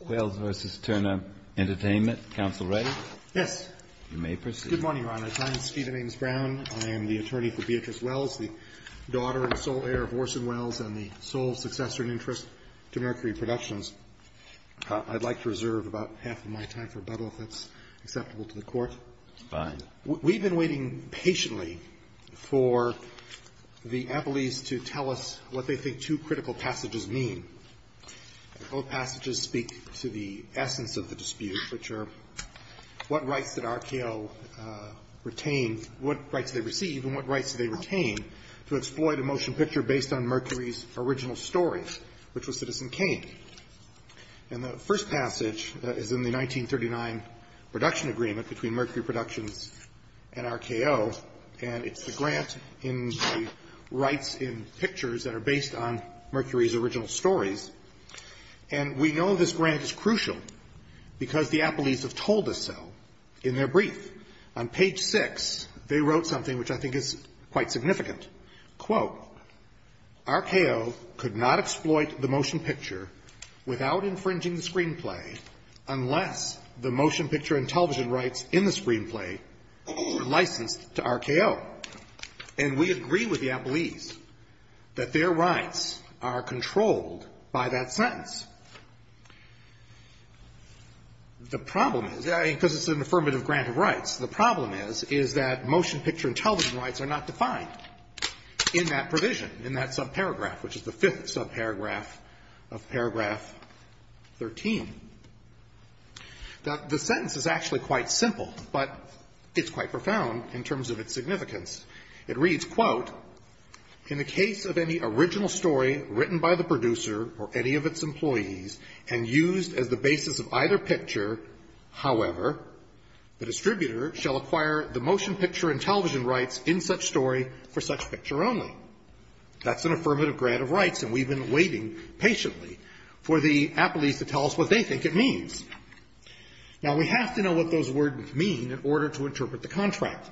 Welles v. Turner Entertainment. Counsel ready? Yes. You may proceed. Good morning, Your Honor. My name is Stephen Ames Brown. I am the attorney for Beatrice Welles, the daughter and sole heir of Orson Welles and the sole successor in interest to Mercury Productions. I'd like to reserve about half of my time for rebuttal, if that's acceptable to the Court. Fine. We've been waiting patiently for the Applees to tell us what they think two critical passages mean. Both passages speak to the essence of the dispute, which are what rights did RKO retain what rights did they receive and what rights did they retain to exploit a motion picture based on Mercury's original story, which was Citizen Kane. And the first passage is in the 1939 production agreement between Mercury Productions and RKO, and it's the grant in the rights in pictures that are based on Mercury's original stories. And we know this grant is crucial because the Applees have told us so in their brief. On page 6, they wrote something which I think is quite significant. Quote, RKO could not exploit the motion picture without infringing the screenplay unless the motion picture and television rights in the screenplay were licensed to RKO. And we agree with the Applees that their rights are controlled by that sentence. The problem is, because it's an affirmative grant of rights, the problem is, is that motion picture and television rights are not defined in that provision, in that subparagraph, which is the fifth subparagraph of paragraph 13. Now, the sentence is actually quite simple, but it's quite profound in terms of its significance. It reads, quote, in the case of any original story written by the producer or any of its employees and used as the basis of either picture, however, the distributor shall acquire the motion picture and television rights in such story for such picture only. That's an affirmative grant of rights, and we've been waiting patiently for the Applees to tell us what they think it means. Now, we have to know what those words mean in order to interpret the contract.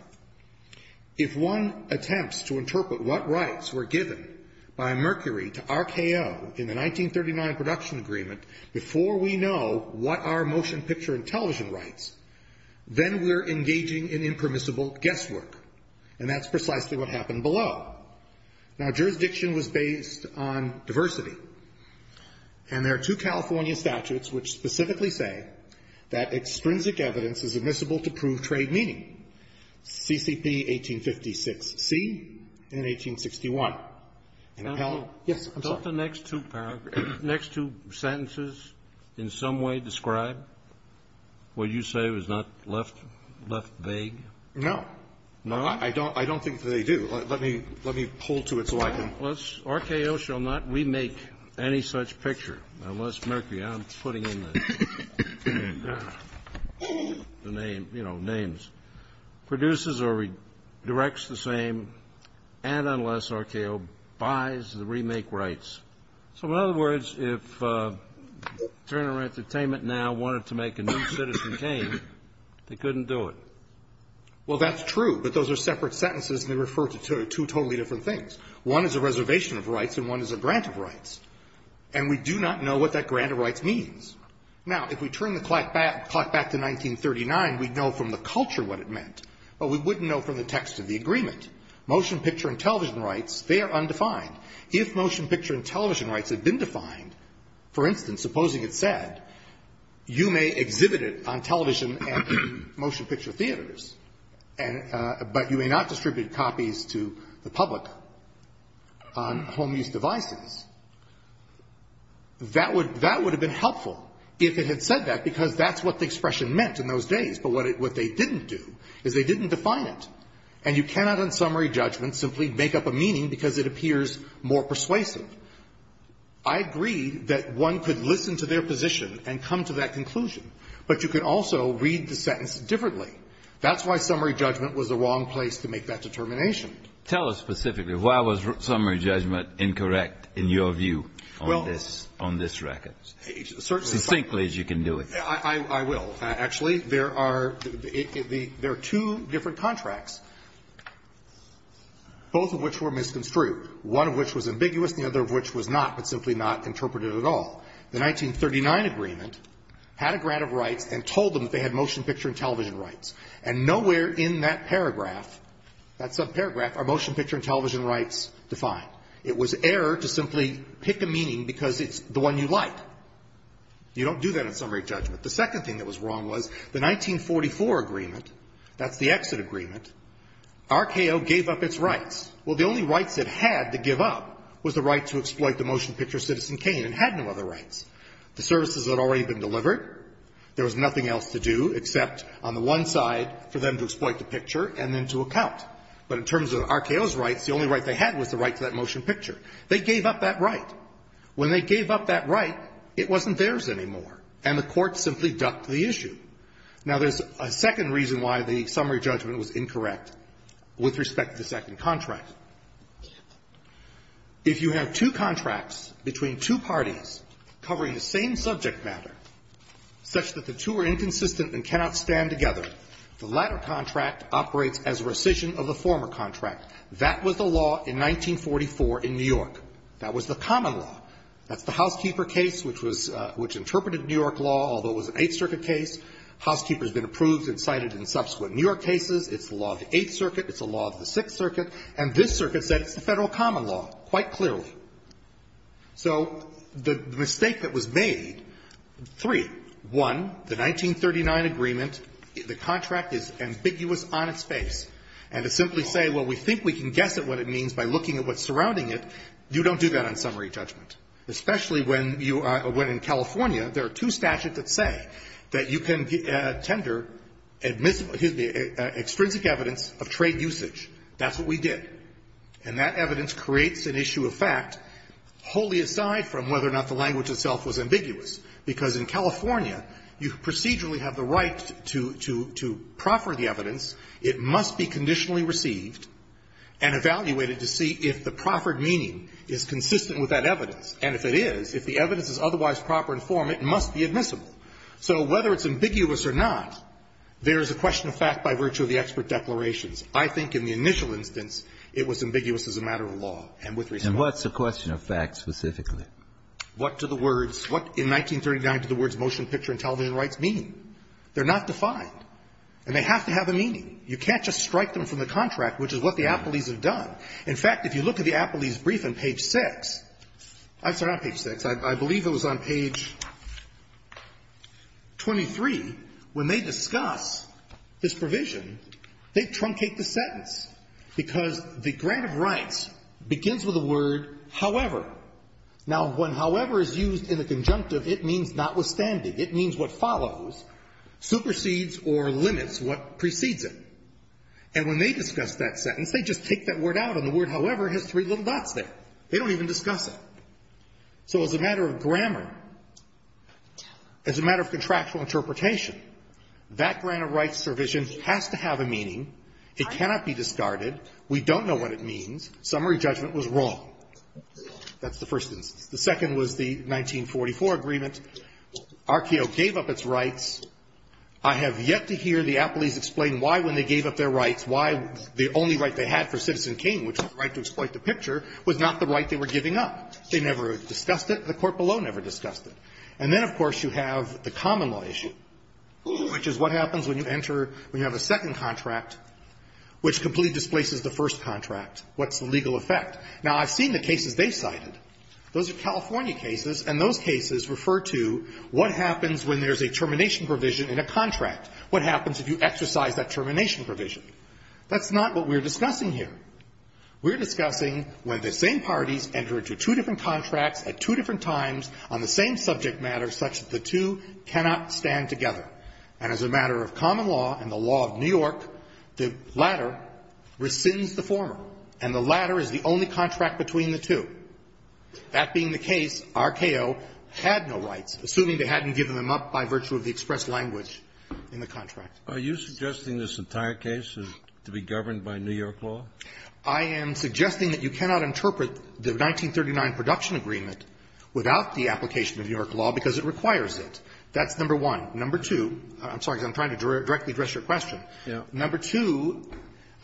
If one attempts to interpret what rights were given by Mercury to RKO in the 1939 production agreement before we know what our motion picture and television rights, then we're engaging in impermissible guesswork. And that's precisely what happened below. Now, jurisdiction was based on diversity, and there are two California statutes which specifically say that extrinsic evidence is admissible to prove trade meaning, CCP 1856C and 1861. And appellate. Yes, I'm sorry. The next two sentences in some way describe what you say was not left vague? No. No? I don't think they do. Let me hold to it so I can. RKO shall not remake any such picture unless Mercury, I'm putting in the name, you know, names, produces or redirects the same and unless RKO buys the remake rights. So in other words, if Turner Entertainment now wanted to make a new Citizen Kane, they couldn't do it. Well, that's true, but those are separate sentences and they refer to two totally different things. One is a reservation of rights and one is a grant of rights. And we do not know what that grant of rights means. Now, if we turn the clock back to 1939, we'd know from the culture what it meant, but we wouldn't know from the text of the agreement. Motion picture and television rights, they are undefined. If motion picture and television rights had been defined, for instance, supposing it said, you may exhibit it on television and in motion picture theaters, but you may not distribute copies to the public on home use devices, that would have been helpful if it had said that because that's what the expression meant in those days. But what they didn't do is they didn't define it. And you cannot in summary judgment simply make up a meaning because it appears more persuasive. I agree that one could listen to their position and come to that conclusion, but you could also read the sentence differently. That's why summary judgment was the wrong place to make that determination. Tell us specifically, why was summary judgment incorrect in your view on this record? Well, certainly. As succinctly as you can do it. I will. Actually, there are two different contracts, both of which were misconstrued, one of which was ambiguous, the other of which was not, but simply not interpreted at all. The 1939 agreement had a grant of rights and told them that they had motion picture and television rights. And nowhere in that paragraph, that subparagraph, are motion picture and television rights defined. It was error to simply pick a meaning because it's the one you like. You don't do that in summary judgment. The second thing that was wrong was the 1944 agreement, that's the exit agreement, RKO gave up its rights. Well, the only rights it had to give up was the right to exploit the motion picture Citizen Kane and had no other rights. The services had already been delivered. There was nothing else to do except on the one side for them to exploit the picture and then to account. But in terms of RKO's rights, the only right they had was the right to that motion picture. They gave up that right. When they gave up that right, it wasn't theirs anymore. And the Court simply ducked the issue. Now, there's a second reason why the summary judgment was incorrect with respect to the second contract. If you have two contracts between two parties covering the same subject matter such that the two are inconsistent and cannot stand together, the latter contract operates as rescission of the former contract. That was the law in 1944 in New York. That was the common law. That's the Housekeeper case, which was the Housekeeper case, which interpreted New York law, although it was an Eighth Circuit case. Housekeeper has been approved and cited in subsequent New York cases. It's the law of the Eighth Circuit. It's the law of the Sixth Circuit. And this circuit said it's the Federal common law quite clearly. So the mistake that was made, three, one, the 1939 agreement, the contract is ambiguous on its face, and to simply say, well, we think we can guess at what it means by looking at what's surrounding it, you don't do that on summary judgment, especially when you are – when in California there are two statutes that say that you can tender admissible – excuse me, extrinsic evidence of trade usage. That's what we did. And that evidence creates an issue of fact wholly aside from whether or not the language itself was ambiguous, because in California, you procedurally have the right to – to – to proffer the evidence. It must be conditionally received and evaluated to see if the proffered meaning is consistent with that evidence. And if it is, if the evidence is otherwise proper in form, it must be admissible. So whether it's ambiguous or not, there is a question of fact by virtue of the expert declarations. I think in the initial instance, it was ambiguous as a matter of law and with respect to law. And what's the question of fact specifically? What do the words – what in 1939 do the words motion picture and television rights mean? They're not defined. And they have to have a meaning. You can't just strike them from the contract, which is what the Appellees have done. In fact, if you look at the Appellees' brief on page 6 – I'm sorry, not page 6. I believe it was on page 23. When they discuss this provision, they truncate the sentence, because the grant of rights begins with the word however. Now, when however is used in the conjunctive, it means notwithstanding. It means what follows supersedes or limits what precedes it. And when they discuss that sentence, they just take that word out, and the word however has three little dots there. They don't even discuss it. So as a matter of grammar, as a matter of contractual interpretation, that grant of rights provision has to have a meaning. It cannot be discarded. We don't know what it means. Summary judgment was wrong. That's the first instance. The second was the 1944 agreement. RKO gave up its rights. I have yet to hear the Appellees explain why, when they gave up their rights, why the only right they had for Citizen King, which was the right to exploit the picture, was not the right they were giving up. They never discussed it. The court below never discussed it. And then, of course, you have the common law issue, which is what happens when you enter, when you have a second contract which completely displaces the first contract. What's the legal effect? Now, I've seen the cases they cited. Those are California cases, and those cases refer to what happens when there's a termination provision in a contract. What happens if you exercise that termination provision? That's not what we're discussing here. We're discussing when the same parties enter into two different contracts at two different times on the same subject matter, such that the two cannot stand together. And as a matter of common law and the law of New York, the latter rescinds the former. And the latter is the only contract between the two. That being the case, RKO had no rights, assuming they hadn't given them up by virtue of the express language in the contract. Are you suggesting this entire case is to be governed by New York law? I am suggesting that you cannot interpret the 1939 production agreement without the application of New York law because it requires it. That's number one. Number two, I'm sorry, I'm trying to directly address your question. Number two,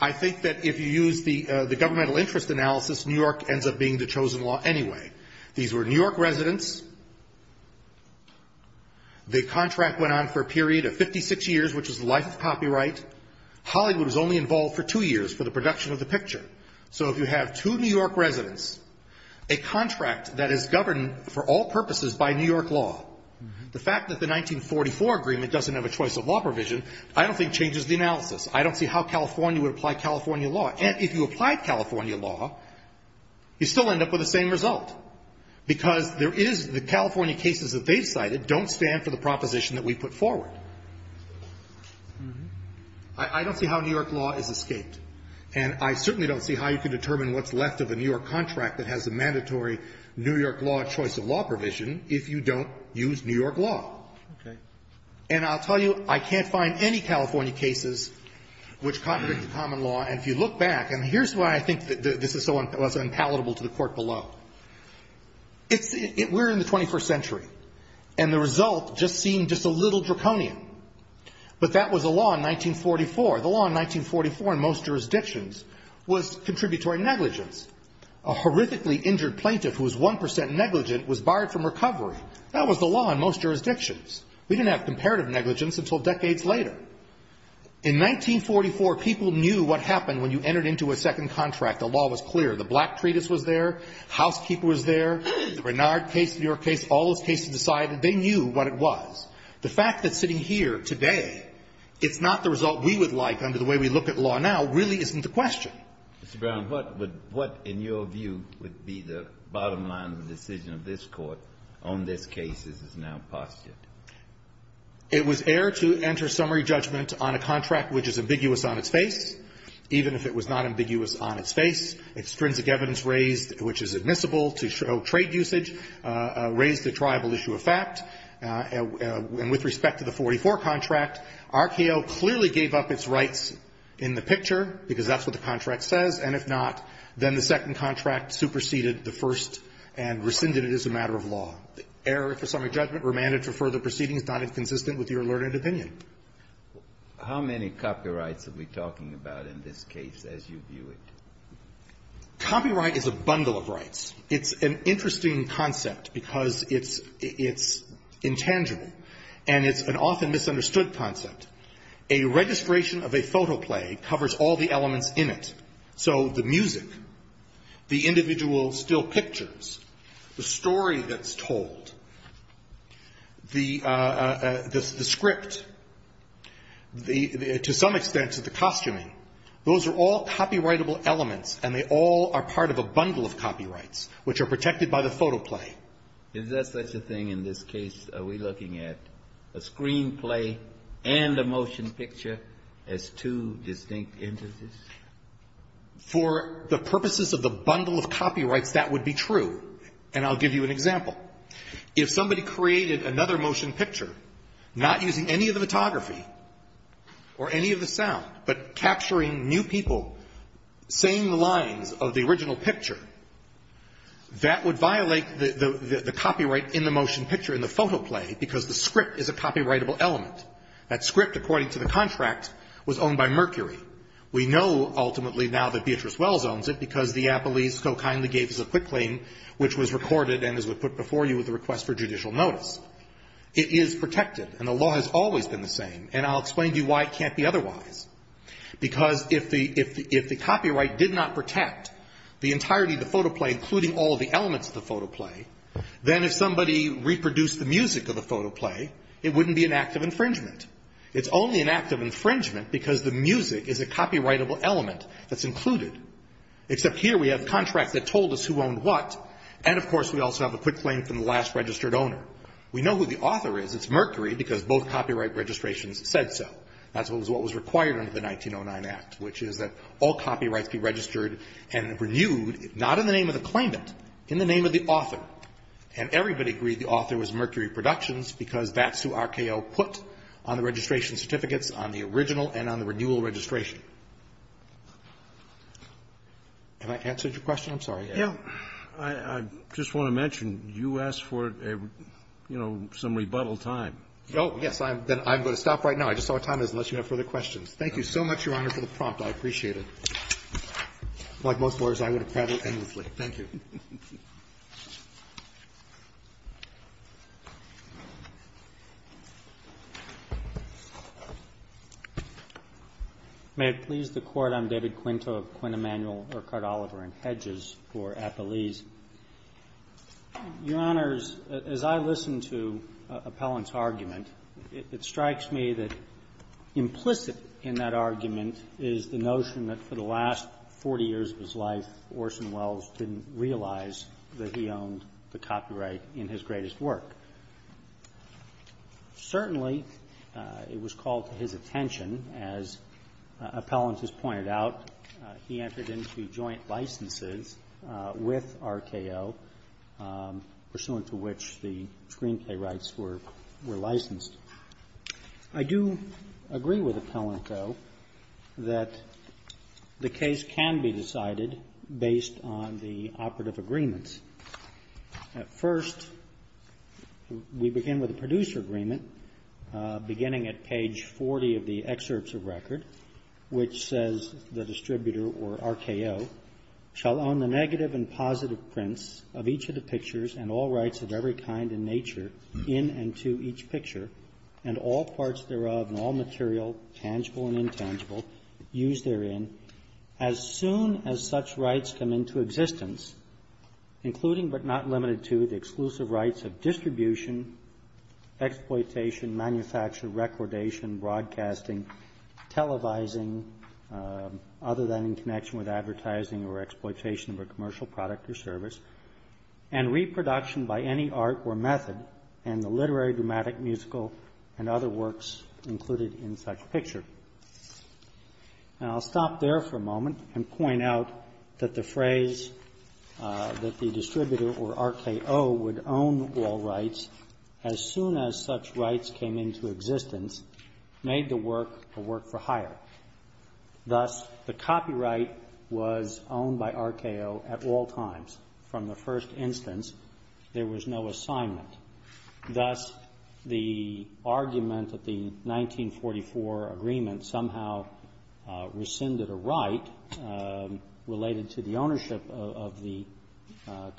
I think that if you use the governmental interest analysis, New York ends up being the chosen law anyway. These were New York residents. The contract went on for a period of 56 years, which is the life of copyright. Hollywood was only involved for two years for the production of the picture. So if you have two New York residents, a contract that is governed for all purposes by New York law, the fact that the 1944 agreement doesn't have a choice of law provision I don't think changes the analysis. I don't see how California would apply California law. And if you applied California law, you still end up with the same result because there is the California cases that they've cited don't stand for the proposition that we put forward. I don't see how New York law is escaped. And I certainly don't see how you can determine what's left of a New York contract that has a mandatory New York law choice of law provision if you don't use New York law. And I'll tell you, I can't find any California cases which contradict the common law. And if you look back, and here's why I think this is so impalatable to the Court below. We're in the 21st century. And the result just seemed just a little draconian. But that was the law in 1944. The law in 1944 in most jurisdictions was contributory negligence. A horrifically injured plaintiff who was 1% negligent was barred from recovery. That was the law in most jurisdictions. We didn't have comparative negligence until decades later. In 1944, people knew what happened when you entered into a second contract. The law was clear. The Black Treatise was there. Housekeeper was there. The Renard case, the New York case, all those cases decided they knew what it was. The fact that sitting here today it's not the result we would like under the way we look at law now really isn't the question. Mr. Brown, what would – what in your view would be the bottom line of the decision of this Court on this case as it's now postured? It was air to enter summary judgment on a contract which is ambiguous on its face, even if it was not ambiguous on its face. Extrinsic evidence raised, which is admissible to show trade usage, raised a triable issue of fact. And with respect to the 1944 contract, RKO clearly gave up its rights in the picture because that's what the contract says, and if not, then the second contract superseded the first and rescinded it as a matter of law. The error for summary judgment remanded for further proceeding is not inconsistent with your learned opinion. How many copyrights are we talking about in this case as you view it? Copyright is a bundle of rights. It's an interesting concept because it's – it's intangible, and it's an often misunderstood concept. A registration of a photo play covers all the elements in it, so the music, the to some extent to the costuming. Those are all copyrightable elements, and they all are part of a bundle of copyrights which are protected by the photo play. Is that such a thing in this case? Are we looking at a screenplay and a motion picture as two distinct entities? For the purposes of the bundle of copyrights, that would be true. And I'll give you an example. If somebody created another motion picture, not using any of the photography or any of the sound, but capturing new people saying the lines of the original picture, that would violate the copyright in the motion picture in the photo play because the script is a copyrightable element. That script, according to the contract, was owned by Mercury. We know ultimately now that Beatrice Wells owns it because the Apple East so kindly gave us a quick claim which was recorded and, as we put before you, with a request for judicial notice. It is protected, and the law has always been the same, and I'll explain to you why it can't be otherwise. Because if the copyright did not protect the entirety of the photo play, including all of the elements of the photo play, then if somebody reproduced the music of the photo play, it wouldn't be an act of infringement. It's only an act of infringement because the music is a copyrightable element that's included. Except here we have contracts that told us who owned what, and of course we also have a quick claim from the last registered owner. We know who the author is. It's Mercury because both copyright registrations said so. That's what was required under the 1909 Act, which is that all copyrights be registered and renewed, not in the name of the claimant, in the name of the author. And everybody agreed the author was Mercury Productions because that's who RKO put on the registration certificates on the original and on the renewal registration. Have I answered your question? I'm sorry. Roberts. Yeah. I just want to mention you asked for a, you know, some rebuttal time. Oh, yes. I'm going to stop right now. I just saw what time it is, unless you have further questions. Thank you so much, Your Honor, for the prompt. I appreciate it. Like most lawyers, I would have prattled endlessly. Thank you. May it please the Court. I'm David Quinto of Quinn Emanuel Urquhart Oliver and Hedges for Appelese. Your Honors, as I listen to Appellant's argument, it strikes me that implicit in that argument is the notion that for the last 40 years of his life Orson Welles didn't realize that he owned the copyright in his greatest work. Certainly, it was called to his attention, as Appellant has pointed out, he entered into joint licenses with RKO, pursuant to which the screenplay rights were licensed. I do agree with Appellant, though, that the case can be decided based on the operative agreements. At first, we begin with the producer agreement, beginning at page 40 of the excerpts of record, which says the distributor or RKO shall own the negative and positive and all parts thereof and all material, tangible and intangible, used therein, as soon as such rights come into existence, including but not limited to the exclusive rights of distribution, exploitation, manufacture, recordation, broadcasting, televising, other than in connection with advertising or exploitation of a commercial product or service, and reproduction by any art or method, and the literary, dramatic, musical, and other works included in such picture. And I'll stop there for a moment and point out that the phrase that the distributor or RKO would own all rights as soon as such rights came into existence made the work a work for hire. Thus, the copyright was owned by RKO at all times. From the first instance, there was no assignment. Thus, the argument that the 1944 agreement somehow rescinded a right related to the ownership of the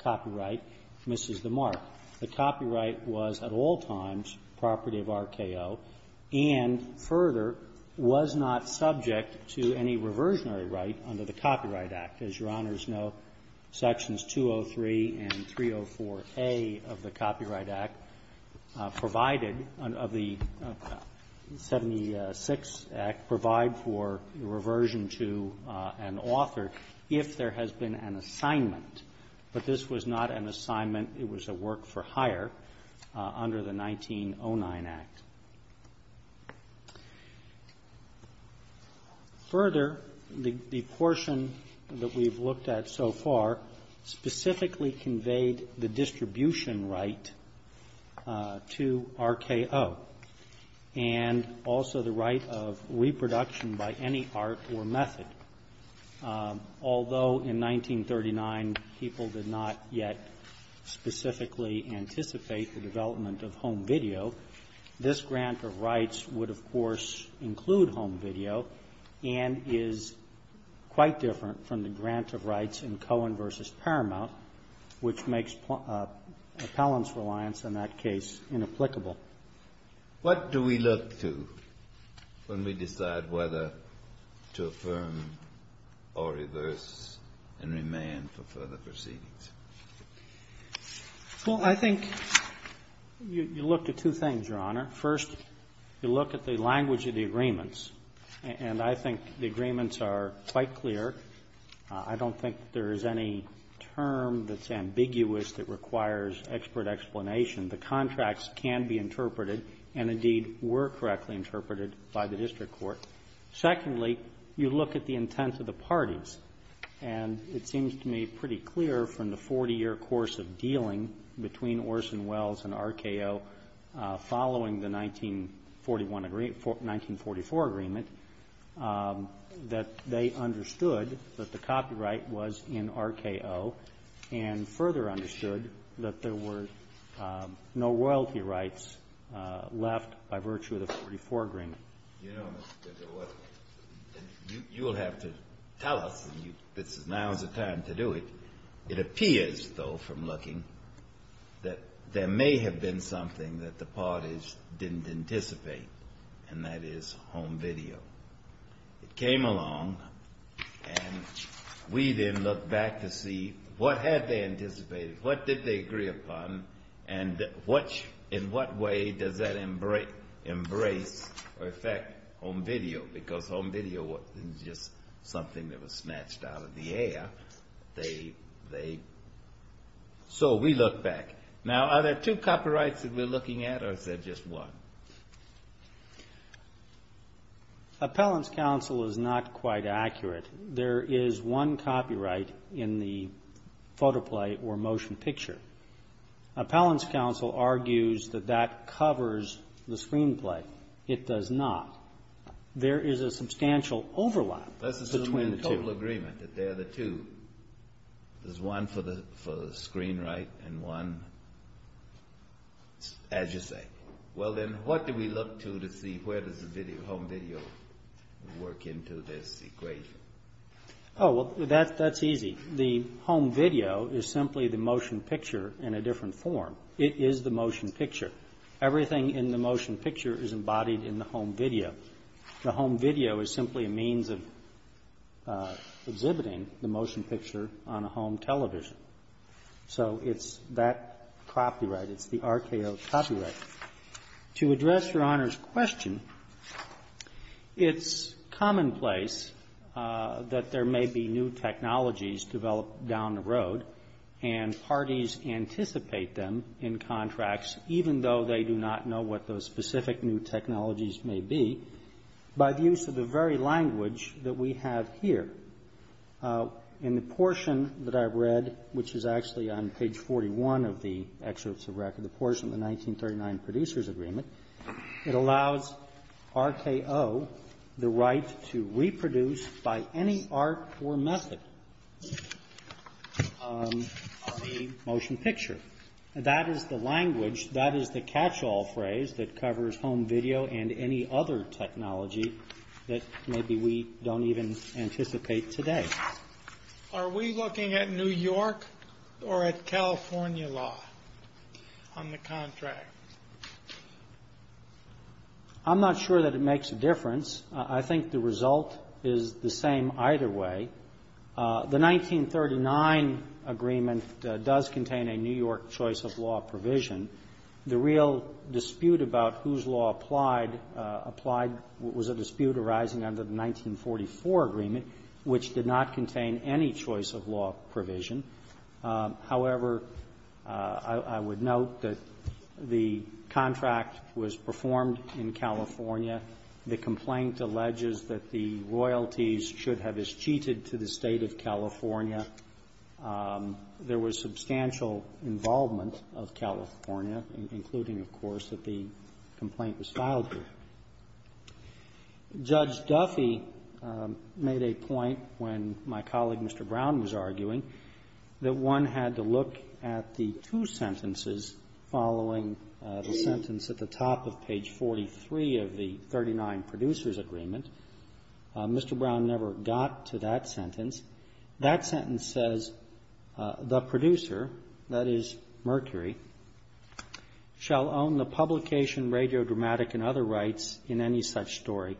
copyright misses the mark. The copyright was at all times property of RKO and further was not subject to any reversionary right under the Copyright Act. As Your Honors know, Sections 203 and 304A of the Copyright Act provided, of the 76 Act, provide for reversion to an author if there has been an assignment. But this was not an assignment. It was a work for hire under the 1909 Act. Further, the portion that we've looked at so far specifically conveyed the distribution right to RKO and also the right of reproduction by any art or method. Although in 1939 people did not yet specifically anticipate the development of home video, this grant of rights would, of course, include home video and is quite different from the grant of rights in Cohen v. Paramount, which makes appellant's reliance on that case inapplicable. What do we look to when we decide whether to affirm or reverse and remand for further proceedings? Well, I think you look to two things, Your Honor. First, you look at the language of the agreements, and I think the agreements are quite clear. I don't think there is any term that's ambiguous that requires expert explanation. The contracts can be interpreted and, indeed, were correctly interpreted by the district court. Secondly, you look at the intent of the parties. And it seems to me pretty clear from the 40-year course of dealing between Orson Wells and RKO following the 1944 agreement that they understood that the copyright was in RKO and further understood that there were no royalty rights left by virtue of the 44 agreement. You know, Mr. DeGioia, you will have to tell us. Now is the time to do it. It appears, though, from looking, that there may have been something that the parties didn't anticipate, and that is home video. It came along, and we then looked back to see what had they anticipated? What did they agree upon? And in what way does that embrace or affect home video? Because home video wasn't just something that was snatched out of the air. So we looked back. Now are there two copyrights that we're looking at or is there just one? Appellant's counsel is not quite accurate. There is one copyright in the photo play or motion picture. Appellant's counsel argues that that covers the screen play. It does not. There is a substantial overlap between the two. Let's assume in total agreement that they're the two. There's one for the screen right and one, as you say. Well, then, what do we look to to see where does the home video work into this equation? Oh, well, that's easy. The home video is simply the motion picture in a different form. It is the motion picture. Everything in the motion picture is embodied in the home video. The home video is simply a means of exhibiting the motion picture on a home television. So it's that copyright. It's the RKO copyright. To address Your Honor's question, it's commonplace that there may be new technologies developed down the road and parties anticipate them in contracts, even though they do not know what those specific new technologies may be, by the use of the very language that we have here. In the portion that I've read, which is actually on page 41 of the excerpts of record, the portion of the 1939 Producers Agreement, it allows RKO the right to reproduce by any art or method the motion picture. That is the language. That is the catch-all phrase that covers home video and any other technology that maybe we don't even anticipate today. Are we looking at New York or at California law on the contract? I'm not sure that it makes a difference. I think the result is the same either way. The 1939 agreement does contain a New York choice of law provision. The real dispute about whose law applied was a dispute arising out of the 1944 agreement, which did not contain any choice of law provision. However, I would note that the contract was performed in California. The complaint alleges that the royalties should have escheated to the State of California. There was substantial involvement of California, including, of course, that the complaint was filed here. Judge Duffy made a point when my colleague, Mr. Brown, was arguing that one had to look at the two sentences following the sentence at the top of page 43 of the 1939 Producers Agreement. Mr. Brown never got to that sentence. That sentence says, the producer, that is Mercury, shall own the publication, radiodramatic, and other rights in any such story,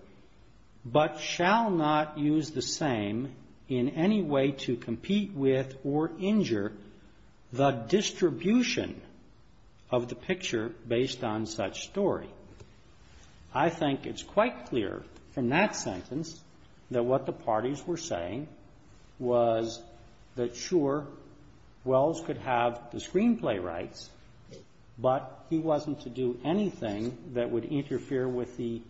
but shall not use the same in any way to compete with or injure the distribution of the picture based on such story. I think it's quite clear from that sentence that what the parties were saying was that, sure, Wells could have the screenplay rights, but he wasn't to do anything that would interfere with the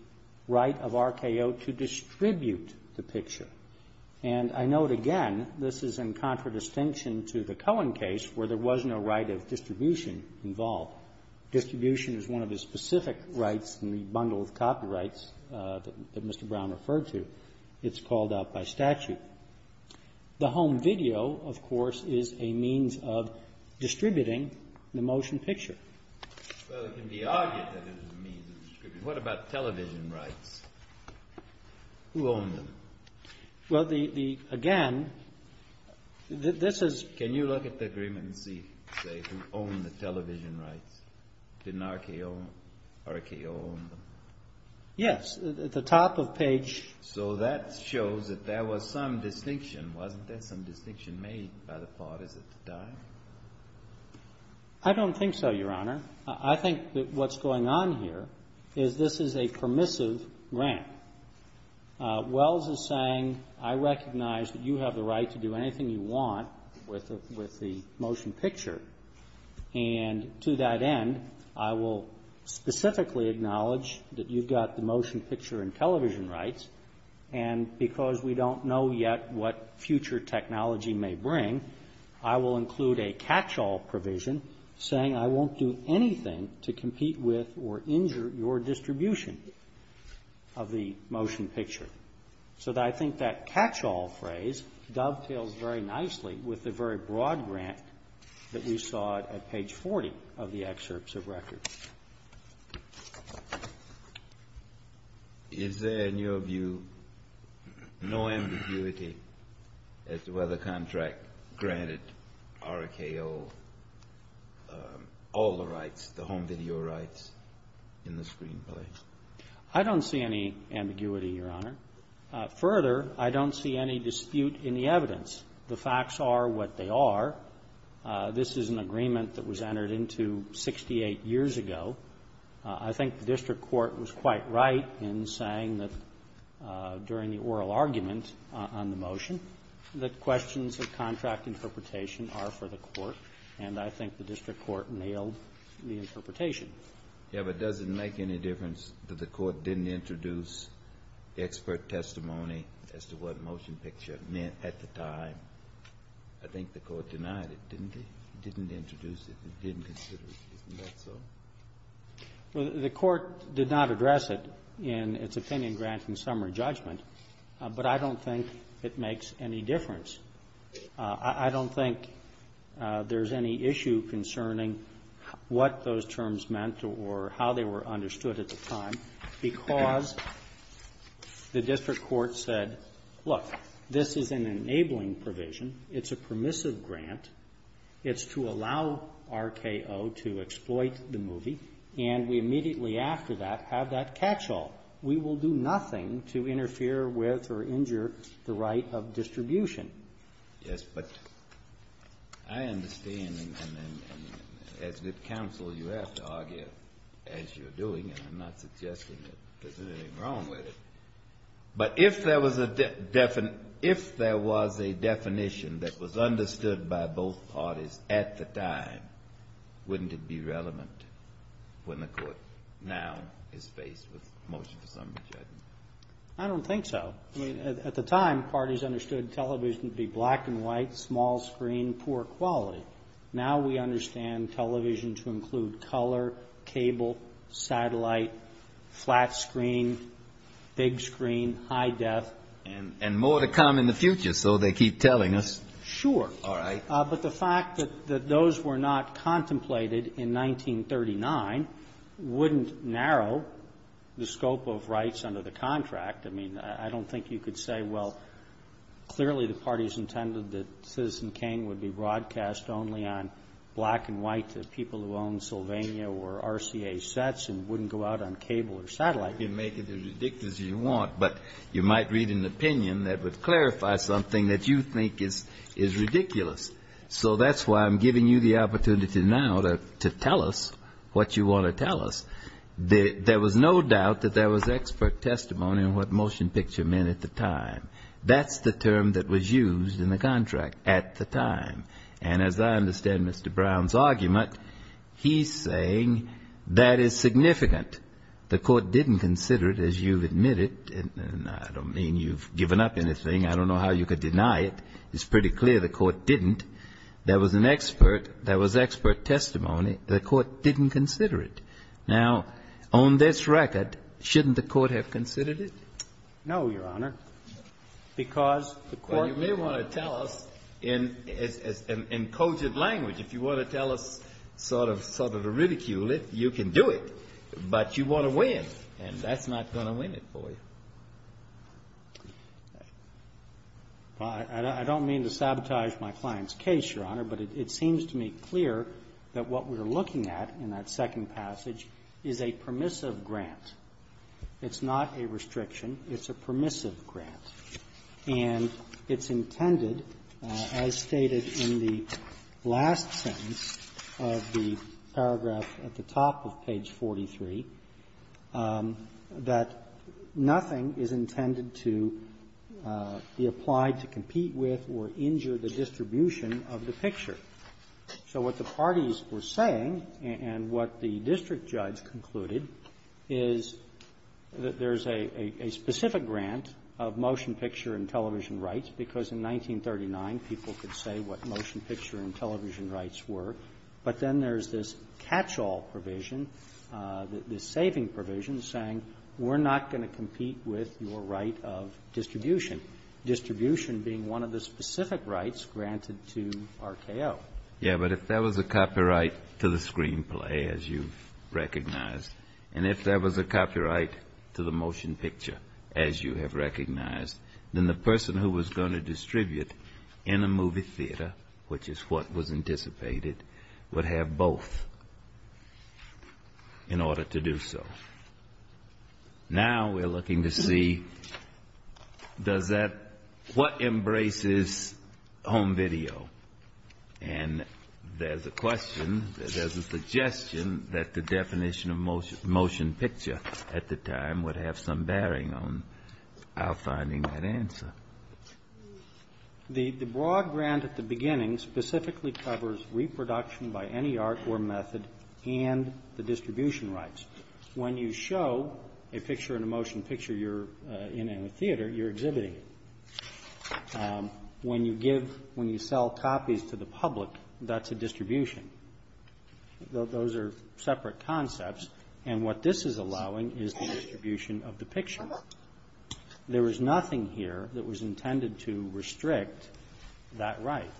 right of RKO to distribute the picture. And I note again, this is in contradistinction to the Cohen case, where there was no right of distribution involved. Distribution is one of the specific rights in the bundle of copyrights that Mr. Brown referred to. It's called out by statute. The home video, of course, is a means of distributing the motion picture. Well, it can be argued that it is a means of distributing. What about television rights? Who owned them? Well, the – again, this is – Can you look at the agreement and see, say, who owned the television rights? Didn't RKO own them? Yes. At the top of page – So that shows that there was some distinction. Wasn't there some distinction made by the parties at the time? I don't think so, Your Honor. I think that what's going on here is this is a permissive grant. Wells is saying, I recognize that you have the right to do anything you want with the motion picture. And to that end, I will specifically acknowledge that you've got the motion picture and television rights. And because we don't know yet what future technology may bring, I will include a catch-all provision saying I won't do anything to compete with or injure your distribution of the motion picture. So I think that catch-all phrase dovetails very nicely with the very broad grant that we saw at page 40 of the excerpts of records. Is there, in your view, no ambiguity as to whether the contract granted RKO all the rights, the home video rights in the screenplay? I don't see any ambiguity, Your Honor. Further, I don't see any dispute in the evidence. The facts are what they are. This is an agreement that was entered into 68 years ago. I think the district court was quite right in saying that during the oral argument on the motion, the questions of contract interpretation are for the court, and I think the district court nailed the interpretation. Yes, but does it make any difference that the court didn't introduce expert testimony as to what motion picture meant at the time? I think the court denied it, didn't it? It didn't introduce it. It didn't consider it. Isn't that so? Well, the court did not address it in its opinion grant and summary judgment, but I don't think it makes any difference. I don't think there's any issue concerning what those terms meant or how they were understood at the time because the district court said, Look, this is an enabling provision. It's a permissive grant. It's to allow RKO to exploit the movie, and we immediately after that have that catch-all. We will do nothing to interfere with or injure the right of distribution. Yes, but I understand, and as good counsel, you have to argue as you're doing, and I'm not suggesting that there's anything wrong with it. But if there was a definition that was understood by both parties at the time, wouldn't it be relevant when the court now is faced with motion for summary judgment? I don't think so. I mean, at the time, parties understood television to be black and white, small screen, poor quality. Now we understand television to include color, cable, satellite, flat screen, big screen, high def. And more to come in the future, so they keep telling us. Sure. All right. But the fact that those were not contemplated in 1939 wouldn't narrow the scope of rights under the contract. I mean, I don't think you could say, well, clearly the parties intended that Citizen King would be broadcast only on black and white to people who own Sylvania or RCA sets and wouldn't go out on cable or satellite. Sure, you can make it as ridiculous as you want, but you might read an opinion that would clarify something that you think is ridiculous. So that's why I'm giving you the opportunity now to tell us what you want to tell us. There was no doubt that there was expert testimony on what motion picture meant at the time. That's the term that was used in the contract at the time. And as I understand Mr. Brown's argument, he's saying that is significant. The Court didn't consider it, as you've admitted. And I don't mean you've given up anything. I don't know how you could deny it. It's pretty clear the Court didn't. There was an expert. There was expert testimony. The Court didn't consider it. Now, on this record, shouldn't the Court have considered it? No, Your Honor, because the Court didn't. Well, you may want to tell us in cogent language. If you want to tell us sort of to ridicule it, you can do it. But you want to win, and that's not going to win it for you. Well, I don't mean to sabotage my client's case, Your Honor, but it seems to me clear that what we're looking at in that second passage is a permissive grant. It's not a restriction. It's a permissive grant. And it's intended, as stated in the last sentence of the paragraph at the top of page 43, that nothing is intended to be applied to compete with or injure the distribution of the picture. So what the parties were saying and what the district judge concluded is that there is a specific grant of motion picture and television rights, because in 1939, people could say what motion picture and television rights were, but then there's this catch-all provision, this saving provision, saying we're not going to compete with your right of distribution, distribution being one of the specific rights granted to RKO. Yes, but if there was a copyright to the screenplay, as you recognize, and if there was a copyright to the motion picture, as you have recognized, then the person who was going to distribute in a movie theater, which is what was anticipated, would have both in order to do so. Now we're looking to see does that, what embraces home video? And there's a question, there's a suggestion that the definition of motion picture at the time would have some bearing on our finding that answer. The broad grant at the beginning specifically covers reproduction by any art or method and the distribution rights. When you show a picture in a motion picture you're in in a theater, you're exhibiting it. When you give, when you sell copies to the public, that's a distribution. Those are separate concepts, and what this is allowing is the distribution of the picture. There was nothing here that was intended to restrict that right.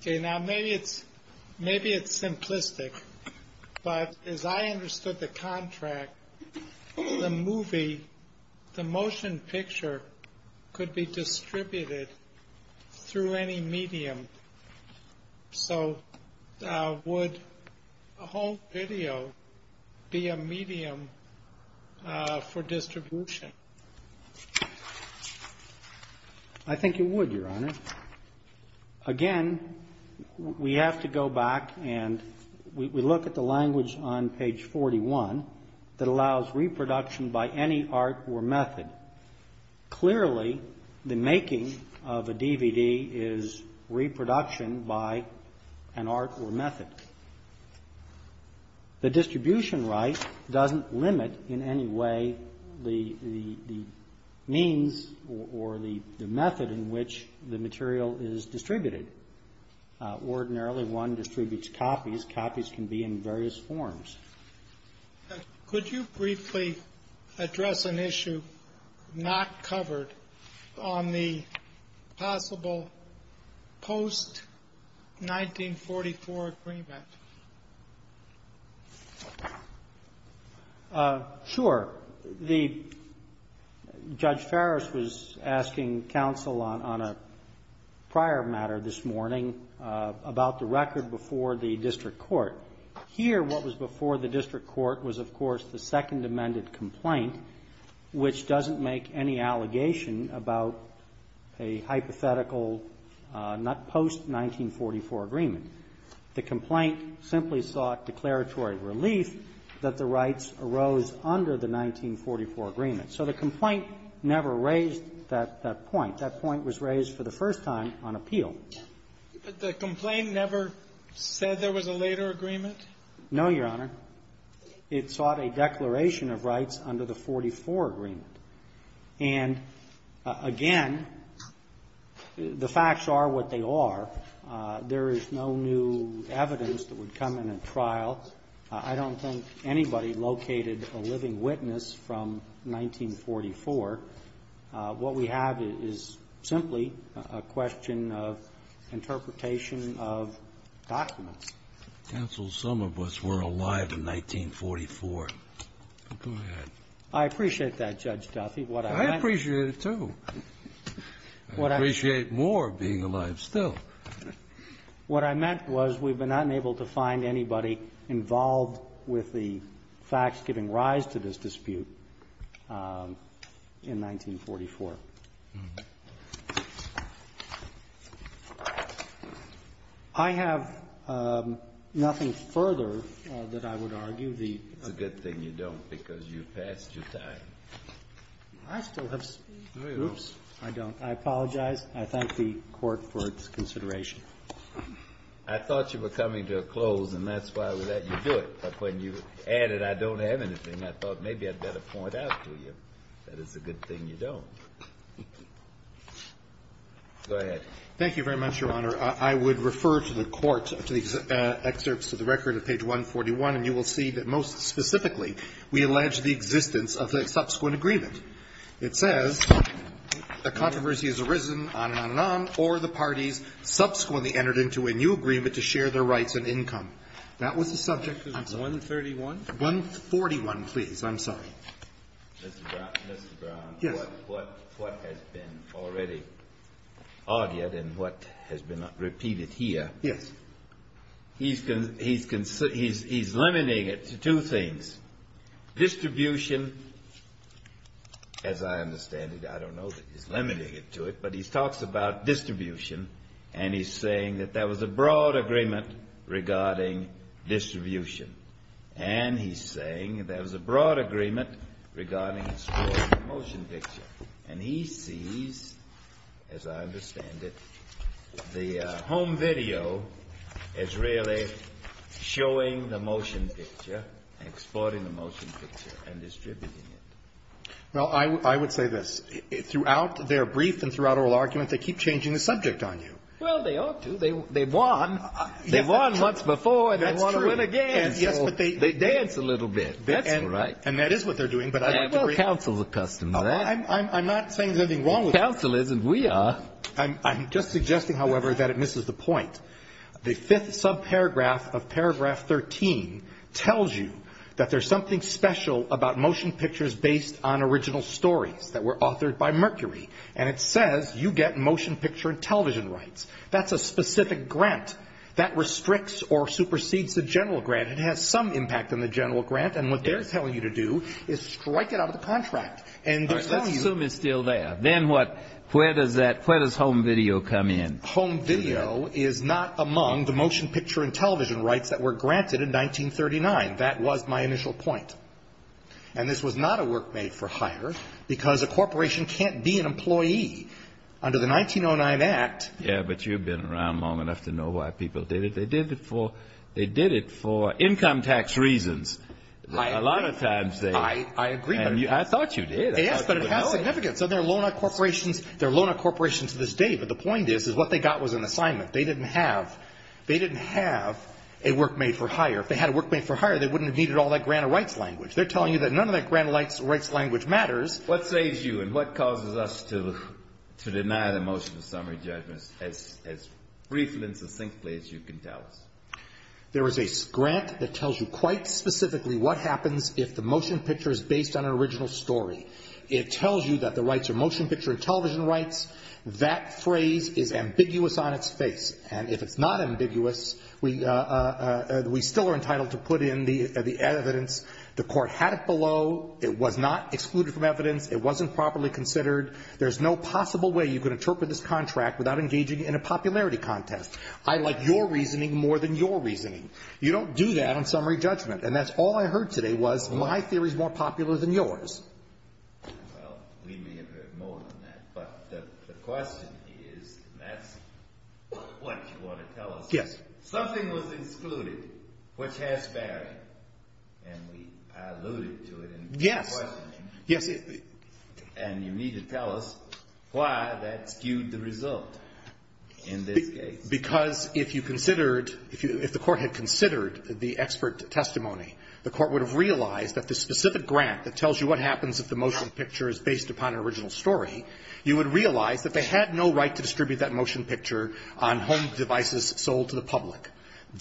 Okay, now maybe it's simplistic, but as I understood the contract, the movie, the motion picture could be distributed through any medium. So would a home video be a medium for distribution? I think it would, Your Honor. Again, we have to go back and we look at the language on page 41 that allows reproduction by any art or method. Clearly the making of a DVD is reproduction by an art or method. The distribution right doesn't limit in any way the means or the method in which the material is distributed. Ordinarily one distributes copies. Copies can be in various forms. Could you briefly address an issue not covered on the possible post-1944 agreement? Sure. Judge Farris was asking counsel on a prior matter this morning about the record before the district court. Here what was before the district court was, of course, the Second Amended complaint, which doesn't make any allegation about a hypothetical post-1944 agreement. The complaint simply sought declaratory relief that the rights arose under the 1944 agreement. So the complaint never raised that point. That point was raised for the first time on appeal. But the complaint never said there was a later agreement? No, Your Honor. It sought a declaration of rights under the 1944 agreement. And, again, the facts are what they are. There is no new evidence that would come in at trial. I don't think anybody located a living witness from 1944. What we have is simply a question of interpretation of documents. Counsel, some of us were alive in 1944. Go ahead. I appreciate that, Judge Duffy. I appreciate it, too. I appreciate more being alive still. What I meant was we've been unable to find anybody involved with the facts giving rise to this dispute in 1944. I have nothing further that I would argue. It's a good thing you don't, because you've passed your time. I still have some. I don't. I apologize. I thank the Court for its consideration. I thought you were coming to a close, and that's why I would let you do it. But when you added I don't have anything, I thought maybe I'd better point out to you that it's a good thing you don't. Go ahead. Thank you very much, Your Honor. I would refer to the court, to the excerpts of the record of page 141, and you will see that, most specifically, we allege the existence of a subsequent agreement. It says the controversy has arisen, on and on and on, or the parties subsequently entered into a new agreement to share their rights and income. That was the subject of 131? 141, please. I'm sorry. Mr. Brown. Yes. What has been already argued and what has been repeated here. Yes. He's limiting it to two things. Distribution, as I understand it, I don't know that he's limiting it to it, but he talks about distribution, and he's saying that there was a broad agreement regarding distribution. And he's saying there was a broad agreement regarding the motion picture. And he sees, as I understand it, the home video is really showing the motion picture and exporting the motion picture and distributing it. Well, I would say this. Throughout their brief and throughout oral argument, they keep changing the subject on you. Well, they ought to. They won. They won once before, and they want to win again. That's true. Yes, but they dance a little bit. That's right. And that is what they're doing, but I'd like to bring it up. Well, counsel is accustomed to that. I'm not saying there's anything wrong with that. Counsel isn't. We are. I'm just suggesting, however, that it misses the point. The fifth subparagraph of paragraph 13 tells you that there's something special about based on original stories that were authored by Mercury. And it says you get motion picture and television rights. That's a specific grant that restricts or supersedes the general grant. It has some impact on the general grant. And what they're telling you to do is strike it out of the contract. All right, let's assume it's still there. Then what? Where does home video come in? Home video is not among the motion picture and television rights that were granted in 1939. That was my initial point. And this was not a work made for hire because a corporation can't be an employee under the 1909 Act. Yeah, but you've been around long enough to know why people did it. They did it for income tax reasons. I agree. A lot of times they do. I agree. And I thought you did. Yes, but it has significance. And there are loan out corporations to this day, but the point is what they got was an assignment. They didn't have a work made for hire. If they had a work made for hire, they wouldn't have needed all that grant of rights language. They're telling you that none of that grant of rights language matters. What saves you and what causes us to deny the motion of summary judgment as briefly and succinctly as you can tell us? There is a grant that tells you quite specifically what happens if the motion picture is based on an original story. It tells you that the rights are motion picture and television rights. That phrase is ambiguous on its face. And if it's not ambiguous, we still are entitled to put in the evidence. The court had it below. It was not excluded from evidence. It wasn't properly considered. There's no possible way you can interpret this contract without engaging in a popularity contest. I like your reasoning more than your reasoning. You don't do that on summary judgment. And that's all I heard today was my theory is more popular than yours. Well, we may have heard more than that. But the question is, and that's what you want to tell us. Yes. Something was excluded which has bearing. And we alluded to it. Yes. And you need to tell us why that skewed the result in this case. Because if you considered, if the court had considered the expert testimony, the court would have realized that the specific grant that tells you what happens if the motion picture is based upon an original story, you would realize that they had no right to distribute that motion picture on home devices sold to the public.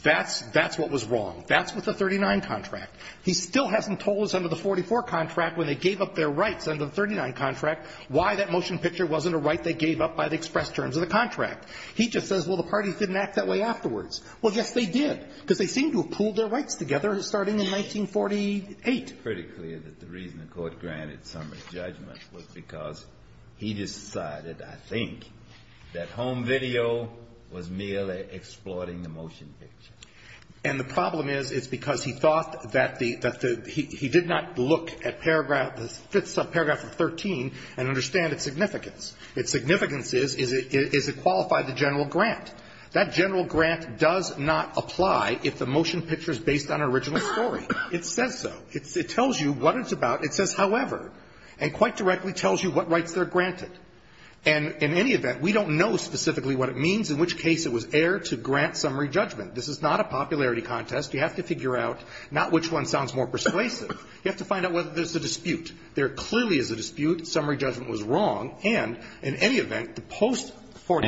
That's what was wrong. That's what the 39 contract. He still hasn't told us under the 44 contract when they gave up their rights under the 39 contract why that motion picture wasn't a right they gave up by the express terms of the contract. He just says, well, the parties didn't act that way afterwards. Well, yes, they did, because they seemed to have pooled their rights together starting in 1948. It's pretty clear that the reason the court granted Summers judgment was because he decided, I think, that home video was merely exploiting the motion picture. And the problem is it's because he thought that the he did not look at paragraph the fifth subparagraph of 13 and understand its significance. Its significance is, is it qualified the general grant? That general grant does not apply if the motion picture is based on an original story. It says so. It tells you what it's about. It says, however, and quite directly tells you what rights they're granted. And in any event, we don't know specifically what it means, in which case it was aired to grant summary judgment. This is not a popularity contest. You have to figure out not which one sounds more persuasive. You have to find out whether there's a dispute. There clearly is a dispute. Summary judgment was wrong. And in any event, the post-forty.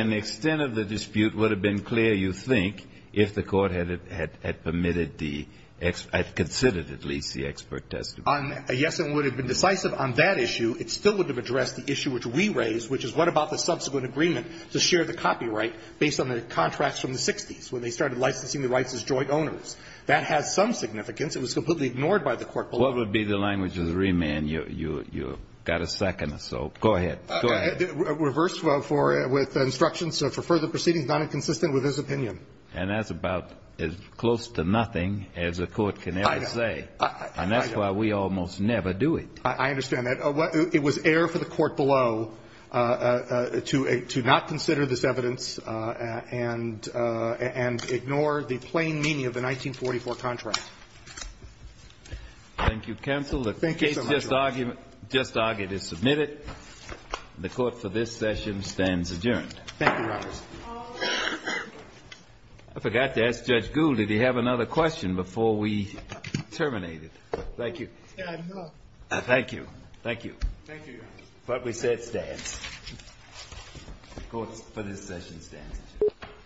Kennedy. And the extent of the dispute would have been clear, you think, if the Court had permitted the, had considered at least the expert testimony. Yes, it would have been decisive on that issue. It still would have addressed the issue which we raised, which is what about the subsequent agreement to share the copyright based on the contracts from the 60s when they started licensing the rights as joint owners? That has some significance. It was completely ignored by the Court below. What would be the language of the remand? You got a second or so. Go ahead. Go ahead. Reversed with instructions for further proceedings not inconsistent with his opinion. And that's about as close to nothing as a court can ever say. I know. I know. And that's why we almost never do it. I understand that. It was air for the Court below to not consider this evidence and ignore the plain meaning of the 1944 contract. Thank you, counsel. The case just argued is submitted. The Court for this session stands adjourned. Thank you, Your Honor. I forgot to ask Judge Gould, did he have another question before we terminated? Thank you. No. Thank you. Thank you. Thank you, Your Honor. But we said stands. The Court for this session stands adjourned.